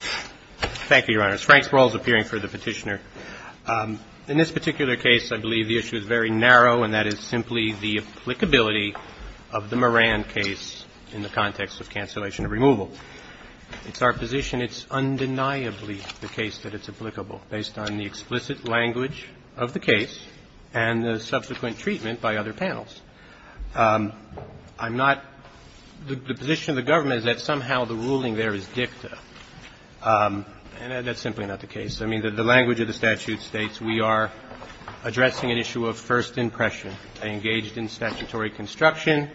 Thank you, Your Honors. Frank Sproul is appearing for the petitioner. In this particular case, I believe the issue is very narrow, and that is simply the applicability of the Moran case in the context of cancellation of removal. It's our position it's undeniably the case that it's applicable, based on the explicit language of the case and the subsequent treatment by other panels. I'm not – the position of the government is that somehow the ruling there is dicta, and that's simply not the case. I mean, the language of the statute states we are addressing an issue of first impression. They engaged in statutory construction.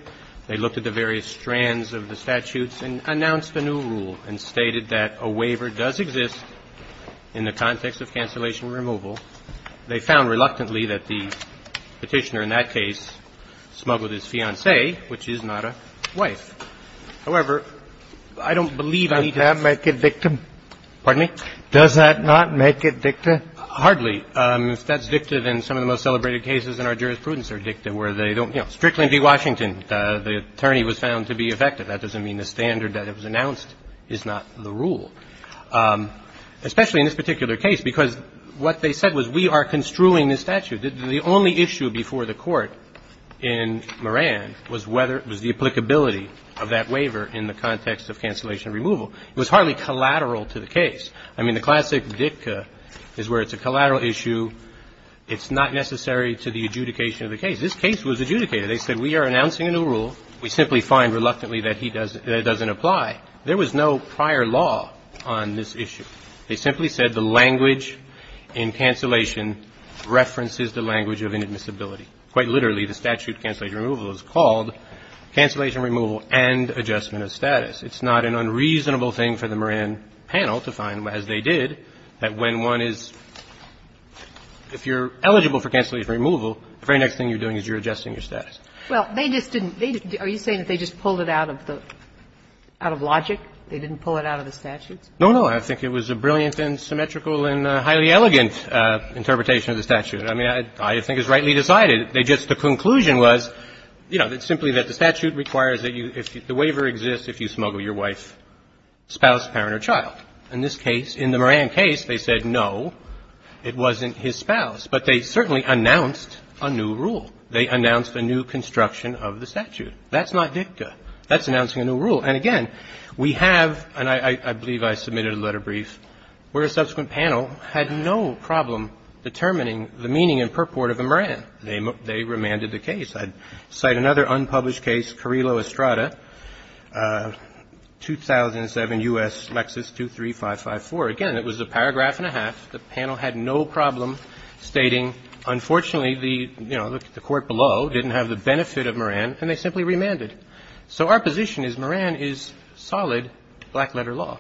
They looked at the various strands of the statutes and announced a new rule and stated that a waiver does exist in the context of cancellation of removal. They found reluctantly that the petitioner in that case smuggled his fiancée, which is not a wife. However, I don't believe I need to – Can that make it dicta? Pardon me? Does that not make it dicta? Hardly. If that's dicta, then some of the most celebrated cases in our jurisprudence are dicta, where they don't – you know, Strickland v. Washington, the attorney was found to be effective. That doesn't mean the standard that was announced is not the rule. Especially in this particular case, because what they said was we are construing this statute. The only issue before the Court in Moran was whether – was the applicability of that waiver in the context of cancellation of removal. It was hardly collateral to the case. I mean, the classic dicta is where it's a collateral issue. It's not necessary to the adjudication of the case. This case was adjudicated. They said we are announcing a new rule. We simply find reluctantly that he doesn't – that it doesn't apply. There was no prior law on this issue. They simply said the language in cancellation references the language of inadmissibility. Quite literally, the statute of cancellation removal is called cancellation removal and adjustment of status. It's not an unreasonable thing for the Moran panel to find, as they did, that when one is – if you're eligible for cancellation removal, the very next thing you're doing is you're adjusting your status. Well, they just didn't – are you saying that they just pulled it out of the – out of logic? They didn't pull it out of the statute? No, no. I think it was a brilliant and symmetrical and highly elegant interpretation of the statute. I mean, I think it's rightly decided. They just – the conclusion was, you know, that simply that the statute requires that you – the waiver exists if you smuggle your wife, spouse, parent, or child. In this case, in the Moran case, they said, no, it wasn't his spouse. But they certainly announced a new rule. They announced a new construction of the statute. That's not dicta. That's announcing a new rule. And, again, we have – and I believe I submitted a letter brief – where a subsequent panel had no problem determining the meaning and purport of the Moran. They remanded the case. I'd cite another unpublished case, Carrillo-Estrada, 2007, U.S. Lexis 23554. Again, it was a paragraph and a half. The panel had no problem stating, unfortunately, the – you know, the court below didn't have the benefit of Moran, and they simply remanded. So our position is Moran is solid black-letter law.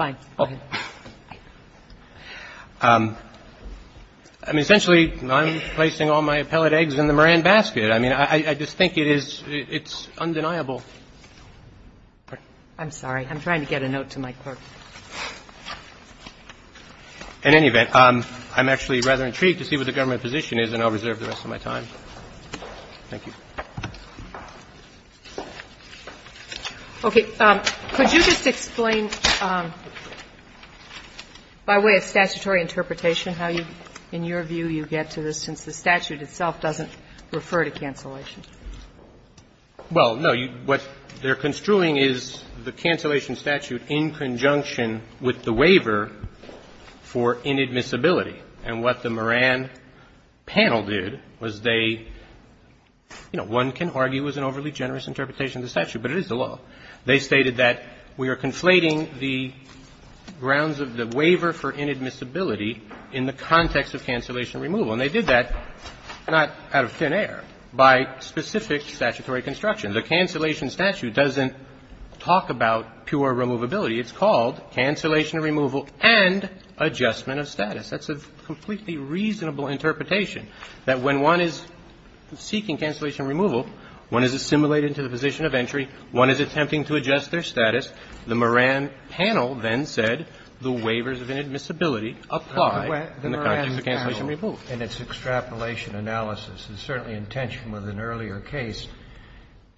I mean, essentially, I'm placing all my appellate eggs in the Moran basket. I mean, I just think it is – it's undeniable. I'm sorry. I'm trying to get a note to my clerk. In any event, I'm actually rather intrigued to see what the government position is, and I'll reserve the rest of my time. Thank you. Okay. Could you just explain by way of statutory interpretation how you – in your view you get to this, since the statute itself doesn't refer to cancellation? Well, no. What they're construing is the cancellation statute in conjunction with the waiver for inadmissibility. And what the Moran panel did was they – you know, one can argue it was an overly generous interpretation of the statute, but it is the law. They stated that we are conflating the grounds of the waiver for inadmissibility in the context of cancellation removal. And they did that not out of thin air, by specific statutory construction. The cancellation statute doesn't talk about pure removability. It's called cancellation removal and adjustment of status. That's a completely reasonable interpretation, that when one is seeking cancellation removal, one is assimilated into the position of entry, one is attempting to adjust their status. The Moran panel then said the waivers of inadmissibility apply in the context of cancellation removal. And it's extrapolation analysis. It's certainly in tension with an earlier case.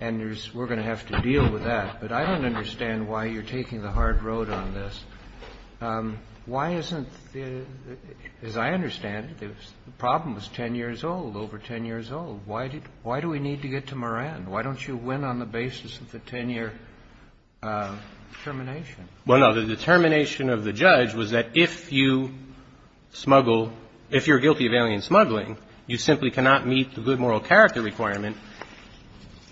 And there's – we're going to have to deal with that. But I don't understand why you're taking the hard road on this. Why isn't the – as I understand it, the problem is 10 years old, over 10 years old. Why do we need to get to Moran? Why don't you win on the basis of the 10-year termination? Well, no, the determination of the judge was that if you smuggle – if you're guilty of alien smuggling, you simply cannot meet the good moral character requirement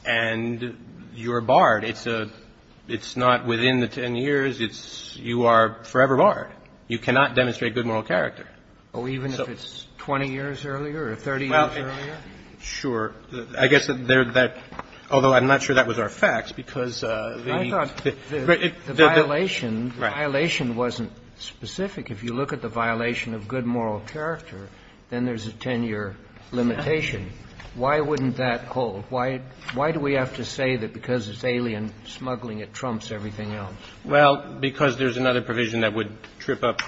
and you're barred. It's a – it's not within the 10 years. It's – you are forever barred. You cannot demonstrate good moral character. Oh, even if it's 20 years earlier or 30 years earlier? Well, sure. I guess they're that – although I'm not sure that was our facts, because the – The violation – the violation wasn't specific. If you look at the violation of good moral character, then there's a 10-year limitation. Why wouldn't that hold? Why – why do we have to say that because it's alien smuggling, it trumps everything else? Well, because there's another provision that would trip up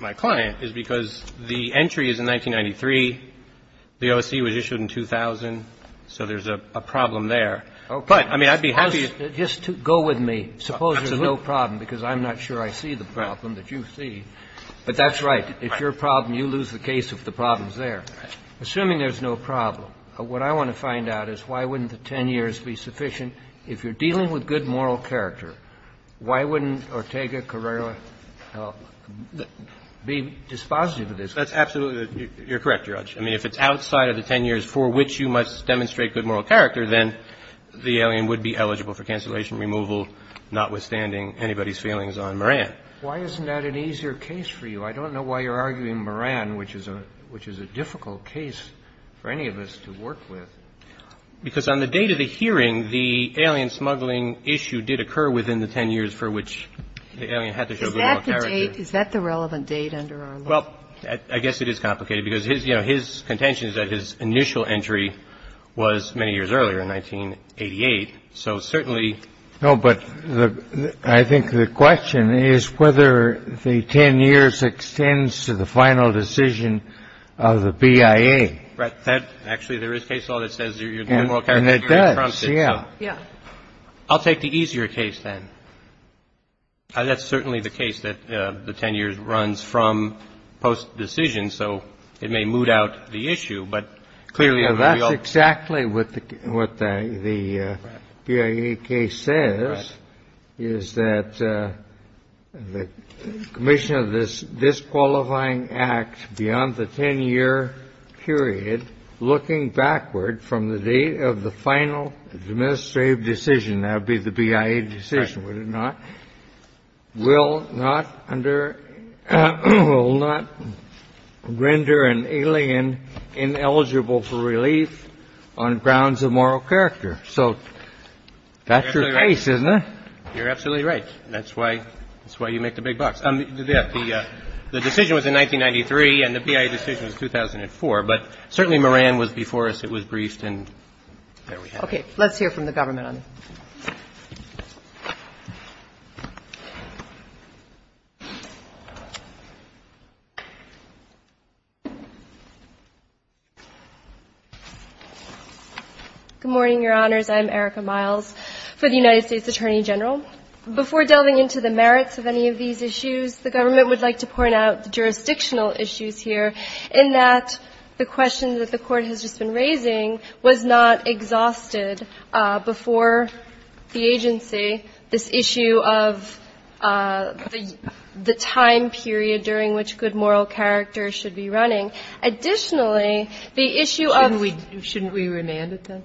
my client, is because the entry is in 1993. The O.S.C. was issued in 2000. So there's a problem there. But, I mean, I'd be happy to – Just go with me. Suppose there's no problem, because I'm not sure I see the problem that you see. But that's right. If you're a problem, you lose the case if the problem's there. Assuming there's no problem, what I want to find out is why wouldn't the 10 years be sufficient? If you're dealing with good moral character, why wouldn't Ortega Carrera be dispositive of this? That's absolutely – you're correct, Your Honor. I mean, if it's outside of the 10 years for which you must demonstrate good moral character, then the alien would be eligible for cancellation, removal, notwithstanding anybody's feelings on Moran. Why isn't that an easier case for you? I don't know why you're arguing Moran, which is a difficult case for any of us to work with. Because on the date of the hearing, the alien smuggling issue did occur within the 10 years for which the alien had to show good moral character. Is that the date? Is that the relevant date under our law? Well, I guess it is complicated, because, you know, his contention is that his initial entry was many years earlier, in 1988. So certainly – No, but I think the question is whether the 10 years extends to the final decision of the BIA. Right. That – actually, there is case law that says your good moral character – And it does. Yeah. Yeah. I'll take the easier case then. That's certainly the case that the 10 years runs from post-decision, so it may mood out the issue. But clearly – That's exactly what the BIA case says, is that the commission of this disqualifying act beyond the 10-year period, looking backward from the date of the final administrative decision – that would be the BIA decision, would it not? Right. And the BIA decision will not under – will not render an alien ineligible for relief on grounds of moral character. So that's your case, isn't it? You're absolutely right. That's why you make the big bucks. The decision was in 1993, and the BIA decision was 2004. But certainly Moran was before us. It was briefed, and there we have it. Okay. Let's hear from the government on this. Good morning, Your Honors. I'm Erica Miles for the United States Attorney General. Before delving into the merits of any of these issues, the government would like to point out the jurisdictional issues here, in that the question that the Court has just been raising was not exhausted before the agency, this issue of the time period during which good moral character should be running. Additionally, the issue of the – Shouldn't we remand it, then?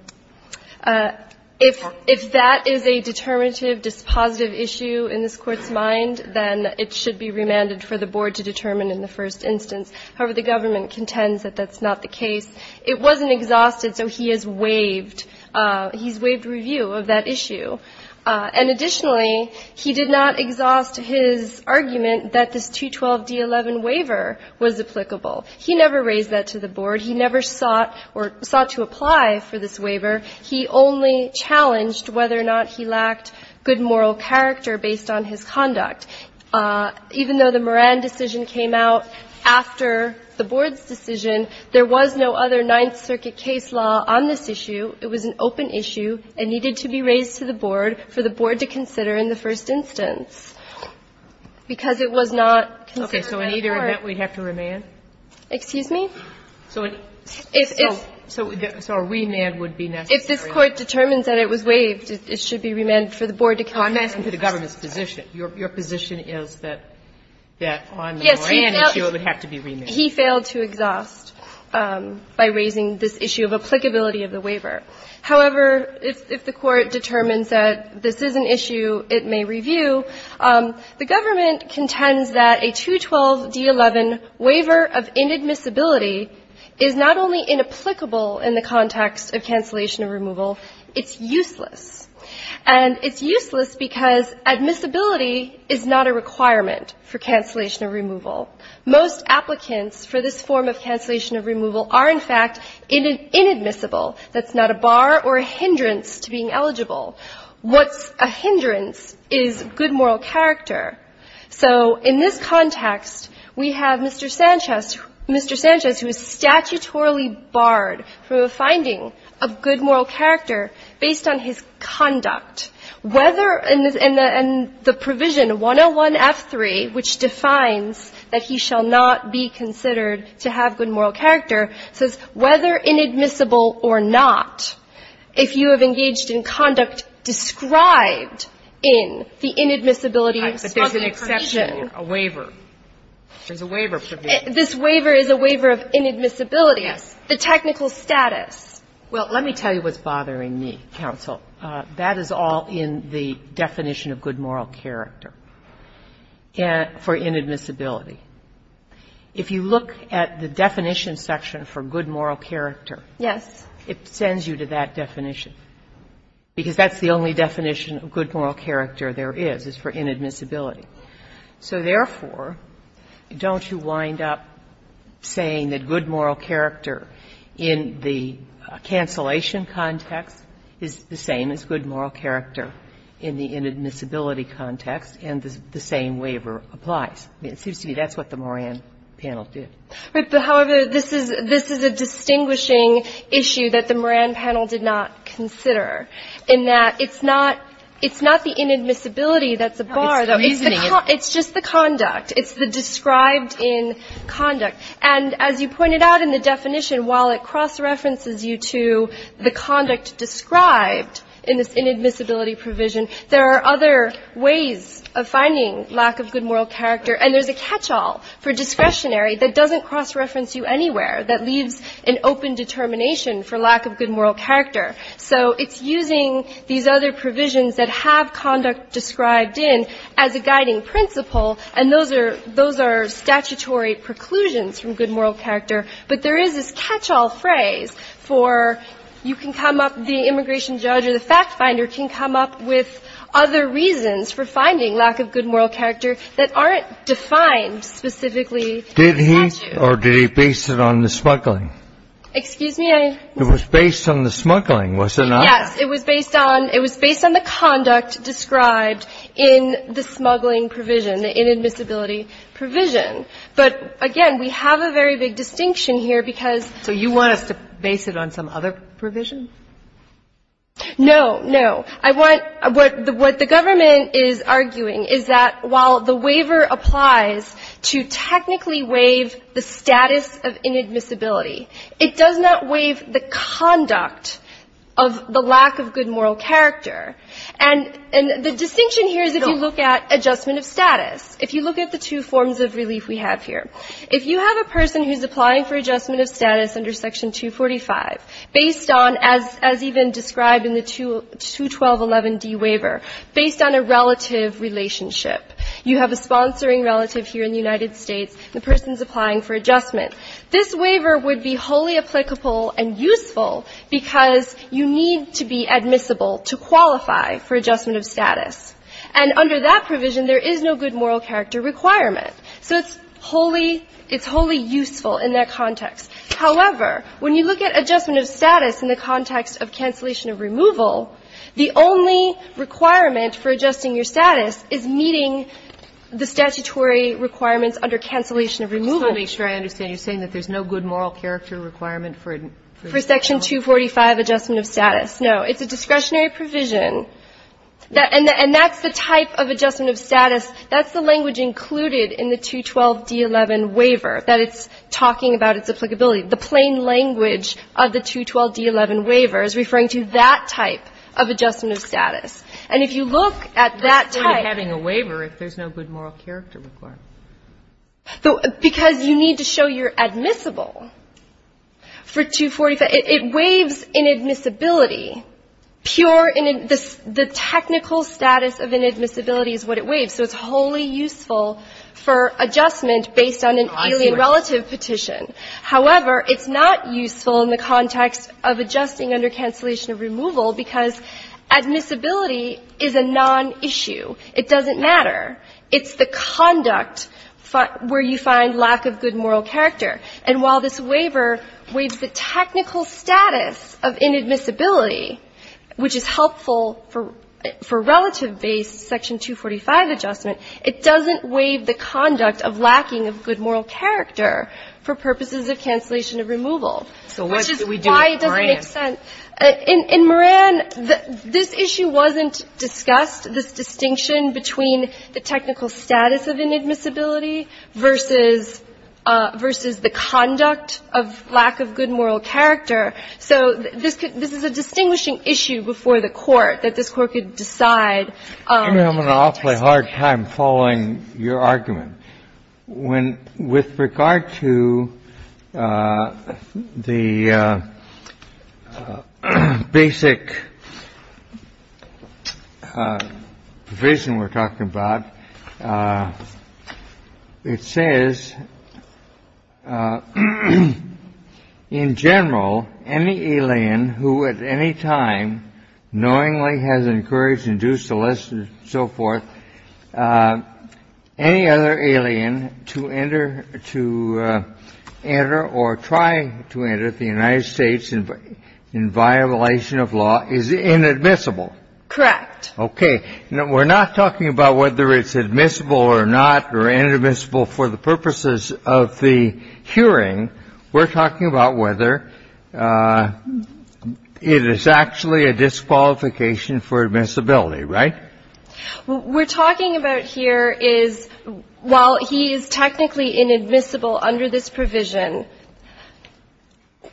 If that is a determinative, dispositive issue in this Court's mind, then it should be remanded for the Board to determine in the first instance. However, the government contends that that's not the case. It wasn't exhausted, so he has waived – he's waived review of that issue. And additionally, he did not exhaust his argument that this 212d11 waiver was applicable. He never raised that to the Board. He never sought or – sought to apply for this waiver. He only challenged whether or not he lacked good moral character based on his conduct. Even though the Moran decision came out after the Board's decision, there was no other Ninth Circuit case law on this issue. It was an open issue. It needed to be raised to the Board for the Board to consider in the first instance. Because it was not considered by the Court. Okay. So in either event, we'd have to remand? Excuse me? So if it's – So a remand would be necessary. If this Court determines that it was waived, it should be remanded for the Board to consider. I'm not asking for the government's position. Your position is that on the Moran issue, it would have to be remanded. Yes. He failed to exhaust by raising this issue of applicability of the waiver. However, if the Court determines that this is an issue it may review, the government contends that a 212d11 waiver of inadmissibility is not only inapplicable in the context of cancellation or removal, it's useless. And it's useless because admissibility is not a requirement for cancellation or removal. Most applicants for this form of cancellation or removal are, in fact, inadmissible. That's not a bar or a hindrance to being eligible. What's a hindrance is good moral character. So in this context, we have Mr. Sanchez, Mr. Sanchez who is statutorily barred from a finding of good moral character based on his conduct. Whether the provision 101f3, which defines that he shall not be considered to have good moral character, says whether inadmissible or not, if you have engaged in conduct described in the inadmissibility smuggling provision. But there's an exception, a waiver. There's a waiver provision. This waiver is a waiver of inadmissibility. Yes. The technical status. Well, let me tell you what's bothering me, counsel. That is all in the definition of good moral character for inadmissibility. If you look at the definition section for good moral character, it sends you to that definition, because that's the only definition of good moral character there is, is for inadmissibility. So, therefore, don't you wind up saying that good moral character in the cancellation context is the same as good moral character in the inadmissibility context and the same waiver applies? I mean, it seems to me that's what the Moran panel did. Right. But, however, this is a distinguishing issue that the Moran panel did not consider in that it's not the inadmissibility that's a bar. It's the reasoning. It's just the conduct. It's the described in conduct. And as you pointed out in the definition, while it cross-references you to the conduct described in this inadmissibility provision, there are other ways of finding lack of good moral character. And there's a catch-all for discretionary that doesn't cross-reference you anywhere, that leaves an open determination for lack of good moral character. So it's using these other provisions that have conduct described in as a guiding principle, and those are statutory preclusions from good moral character. But there is this catch-all phrase for you can come up, the immigration judge or the fact finder can come up with other reasons for finding lack of good moral character that aren't defined specifically in the statute. Did he or did he base it on the smuggling? Excuse me? It was based on the smuggling, was it not? Yes. It was based on the conduct described in the smuggling provision, the inadmissibility provision. But, again, we have a very big distinction here because you want us to base it on some other provision? No. No. What the government is arguing is that while the waiver applies to technically waive the status of inadmissibility, it does not waive the conduct of the lack of good moral character. And the distinction here is if you look at adjustment of status, if you look at the two forms of relief we have here. If you have a person who's applying for adjustment of status under Section 245 based on, as even described in the 212.11d waiver, based on a relative relationship, you have a sponsoring relative here in the United States, the person's applying for adjustment. This waiver would be wholly applicable and useful because you need to be admissible to qualify for adjustment of status. And under that provision, there is no good moral character requirement. So it's wholly useful in that context. However, when you look at adjustment of status in the context of cancellation of removal, the only requirement for adjusting your status is meeting the statutory requirements under cancellation of removal. I'm just trying to make sure I understand. You're saying that there's no good moral character requirement for it? For Section 245 adjustment of status, no. It's a discretionary provision. And that's the type of adjustment of status. That's the language included in the 212.d.11 waiver, that it's talking about its applicability. The plain language of the 212.d.11 waiver is referring to that type of adjustment of status. And if you look at that type. It's kind of having a waiver if there's no good moral character requirement. Because you need to show you're admissible for 245. It waives inadmissibility. Pure in the technical status of inadmissibility is what it waives. So it's wholly useful for adjustment based on an alien relative petition. However, it's not useful in the context of adjusting under cancellation of removal because admissibility is a nonissue. It doesn't matter. It's the conduct where you find lack of good moral character. And while this waiver waives the technical status of inadmissibility, which is helpful for relative-based Section 245 adjustment, it doesn't waive the conduct of lacking of good moral character for purposes of cancellation of removal. So what do we do with Moran? Which is why it doesn't make sense. In Moran, this issue wasn't discussed, this distinction between the technical status of inadmissibility versus the conduct of lack of good moral character. So this is a distinguishing issue before the Court that this Court could decide. I'm having an awfully hard time following your argument. With regard to the basic provision we're talking about, it says, in general, any alien who at any time knowingly has encouraged, induced, solicited, so forth, any other alien to enter or try to enter the United States in violation of law is inadmissible. Correct. Okay. We're not talking about whether it's admissible or not or inadmissible for the purposes of the hearing. We're talking about whether it is actually a disqualification for admissibility, right? What we're talking about here is, while he is technically inadmissible under this provision,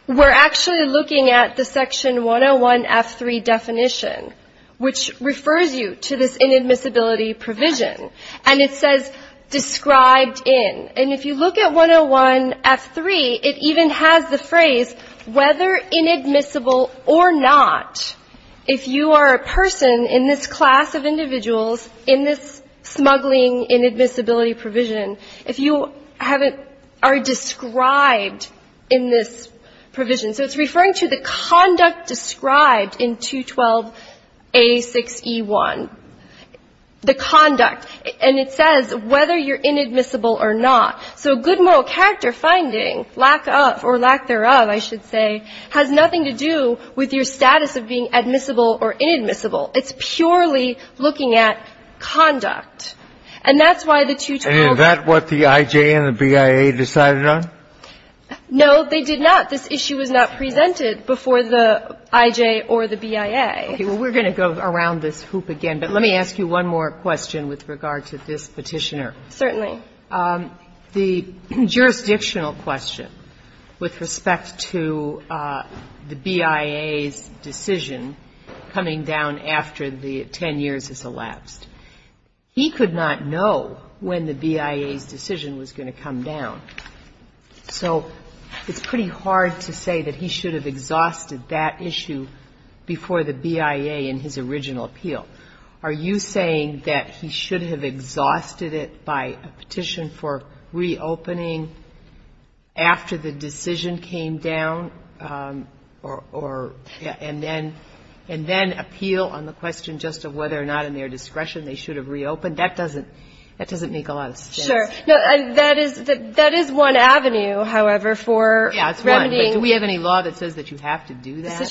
we're actually looking at the Section 101F3 definition, which refers you to this inadmissibility provision. And it says, described in. And if you look at 101F3, it even has the phrase, whether inadmissible or not, if you are a person in this class of individuals in this smuggling inadmissibility provision, if you haven't or are described in this provision. So it's referring to the conduct described in 212A6E1, the conduct. And it says whether you're inadmissible or not. So good moral character finding, lack of or lack thereof, I should say, has nothing to do with your status of being admissible or inadmissible. It's purely looking at conduct. And that's why the 212. And is that what the I.J. and the BIA decided on? No, they did not. This issue was not presented before the I.J. or the BIA. Okay. Well, we're going to go around this hoop again. But let me ask you one more question with regard to this Petitioner. Certainly. The jurisdictional question with respect to the BIA's decision coming down after the 10 years has elapsed. He could not know when the BIA's decision was going to come down. So it's pretty hard to say that he should have exhausted that issue before the BIA in his original appeal. Are you saying that he should have exhausted it by a petition for reopening after the decision came down or and then appeal on the question just of whether or not in their discretion they should have reopened? That doesn't make a lot of sense. Sure. That is one avenue, however, for remedying. Yeah, it's one. But do we have any law that says that you have to do that?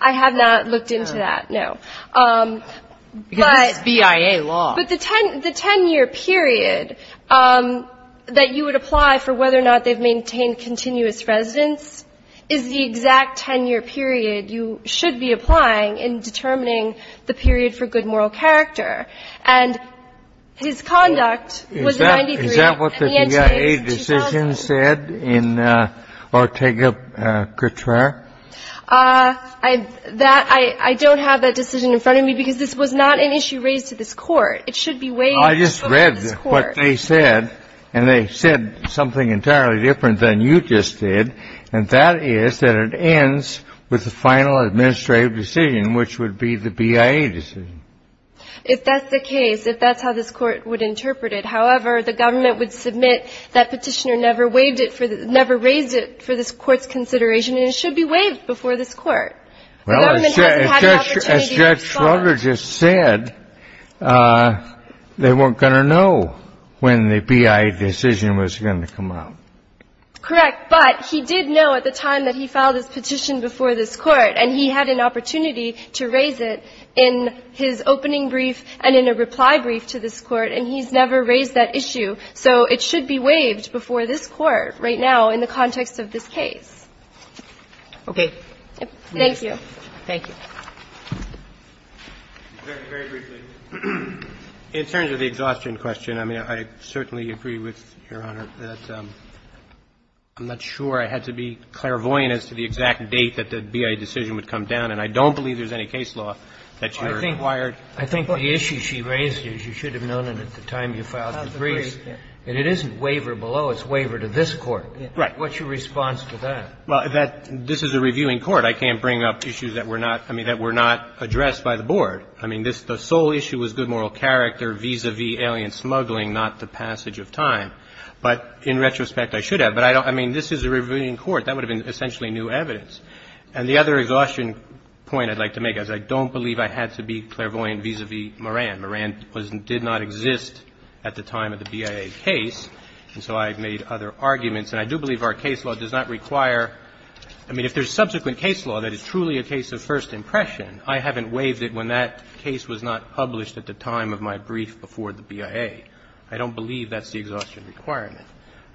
I have not looked into that, no. Because this is BIA law. But the 10-year period that you would apply for whether or not they've maintained continuous residence is the exact 10-year period you should be applying in determining the period for good moral character. And his conduct was in 93 and the end date is 2000. Is that what the BIA decision said in Ortega-Cutrer? I don't have that decision in front of me because this was not an issue raised to this It should be weighed over this Court. I just read what they said, and they said something entirely different than you just did, and that is that it ends with the final administrative decision, which would be the BIA decision. If that's the case, if that's how this Court would interpret it, however, the government would submit that Petitioner never raised it for this Court's consideration, and it should be weighed before this Court. The government hasn't had an opportunity to respond. Well, as Judge Schroeder just said, they weren't going to know when the BIA decision was going to come out. Correct. But he did know at the time that he filed his petition before this Court, and he had an opportunity to raise it in his opening brief and in a reply brief to this Court, and he's never raised that issue. So it should be weighed before this Court right now in the context of this case. Okay. Thank you. Thank you. Very briefly, in terms of the exhaustion question, I mean, I certainly agree with Your Honor that I'm not sure I had to be clairvoyant as to the exact date that the BIA decision would come down, and I don't believe there's any case law that you're inquired. I think the issue she raised, as you should have known it at the time you filed the briefs, that it isn't waiver below, it's waiver to this Court. Right. What's your response to that? Well, that this is a reviewing court. I can't bring up issues that were not, I mean, that were not addressed by the Board. I mean, the sole issue was good moral character, vis-à-vis alien smuggling, not the passage of time. But in retrospect, I should have. But I don't – I mean, this is a reviewing court. That would have been essentially new evidence. And the other exhaustion point I'd like to make is I don't believe I had to be clairvoyant vis-à-vis Moran. Moran did not exist at the time of the BIA case, and so I've made other arguments. And I do believe our case law does not require – I mean, if there's subsequent case law that is truly a case of first impression, I haven't waived it when that case was not published at the time of my brief before the BIA. I don't believe that's the exhaustion requirement.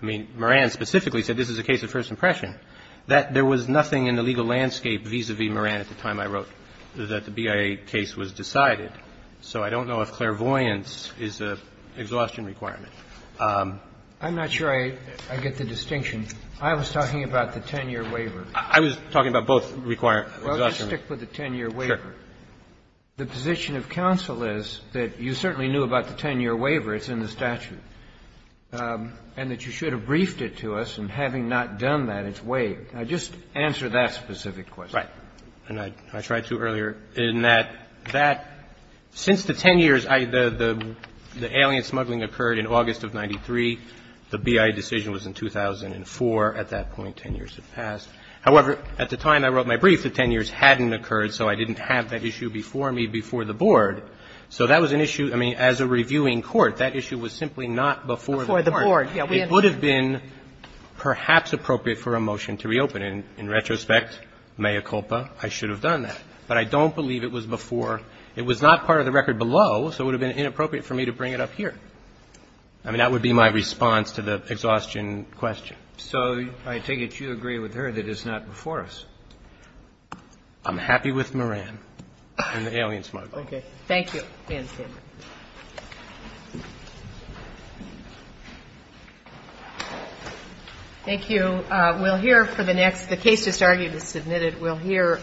I mean, Moran specifically said this is a case of first impression. That there was nothing in the legal landscape vis-à-vis Moran at the time I wrote that the BIA case was decided. So I don't know if clairvoyance is an exhaustion requirement. I'm not sure I get the distinction. I was talking about the 10-year waiver. I was talking about both exhaustion requirements. Well, just stick with the 10-year waiver. Sure. The position of counsel is that you certainly knew about the 10-year waiver. It's in the statute. And that you should have briefed it to us. And having not done that, it's waived. Now, just answer that specific question. Right. And I tried to earlier, in that that – since the 10 years, the alien smuggling occurred in August of 93. The BIA decision was in 2004. At that point, 10 years had passed. However, at the time I wrote my brief, the 10 years hadn't occurred, so I didn't have that issue before me before the Board. So that was an issue – I mean, as a reviewing court, that issue was simply not before the Board. Before the Board, yeah. It would have been perhaps appropriate for a motion to reopen. And in retrospect, mea culpa, I should have done that. But I don't believe it was before – it was not part of the record below, so it would have been inappropriate for me to bring it up here. I mean, that would be my response to the exhaustion question. So I take it you agree with her that it's not before us. I'm happy with Moran and the alien smuggling. Okay. Thank you. Thank you. We'll hear for the next – the case just argued and submitted, we'll hear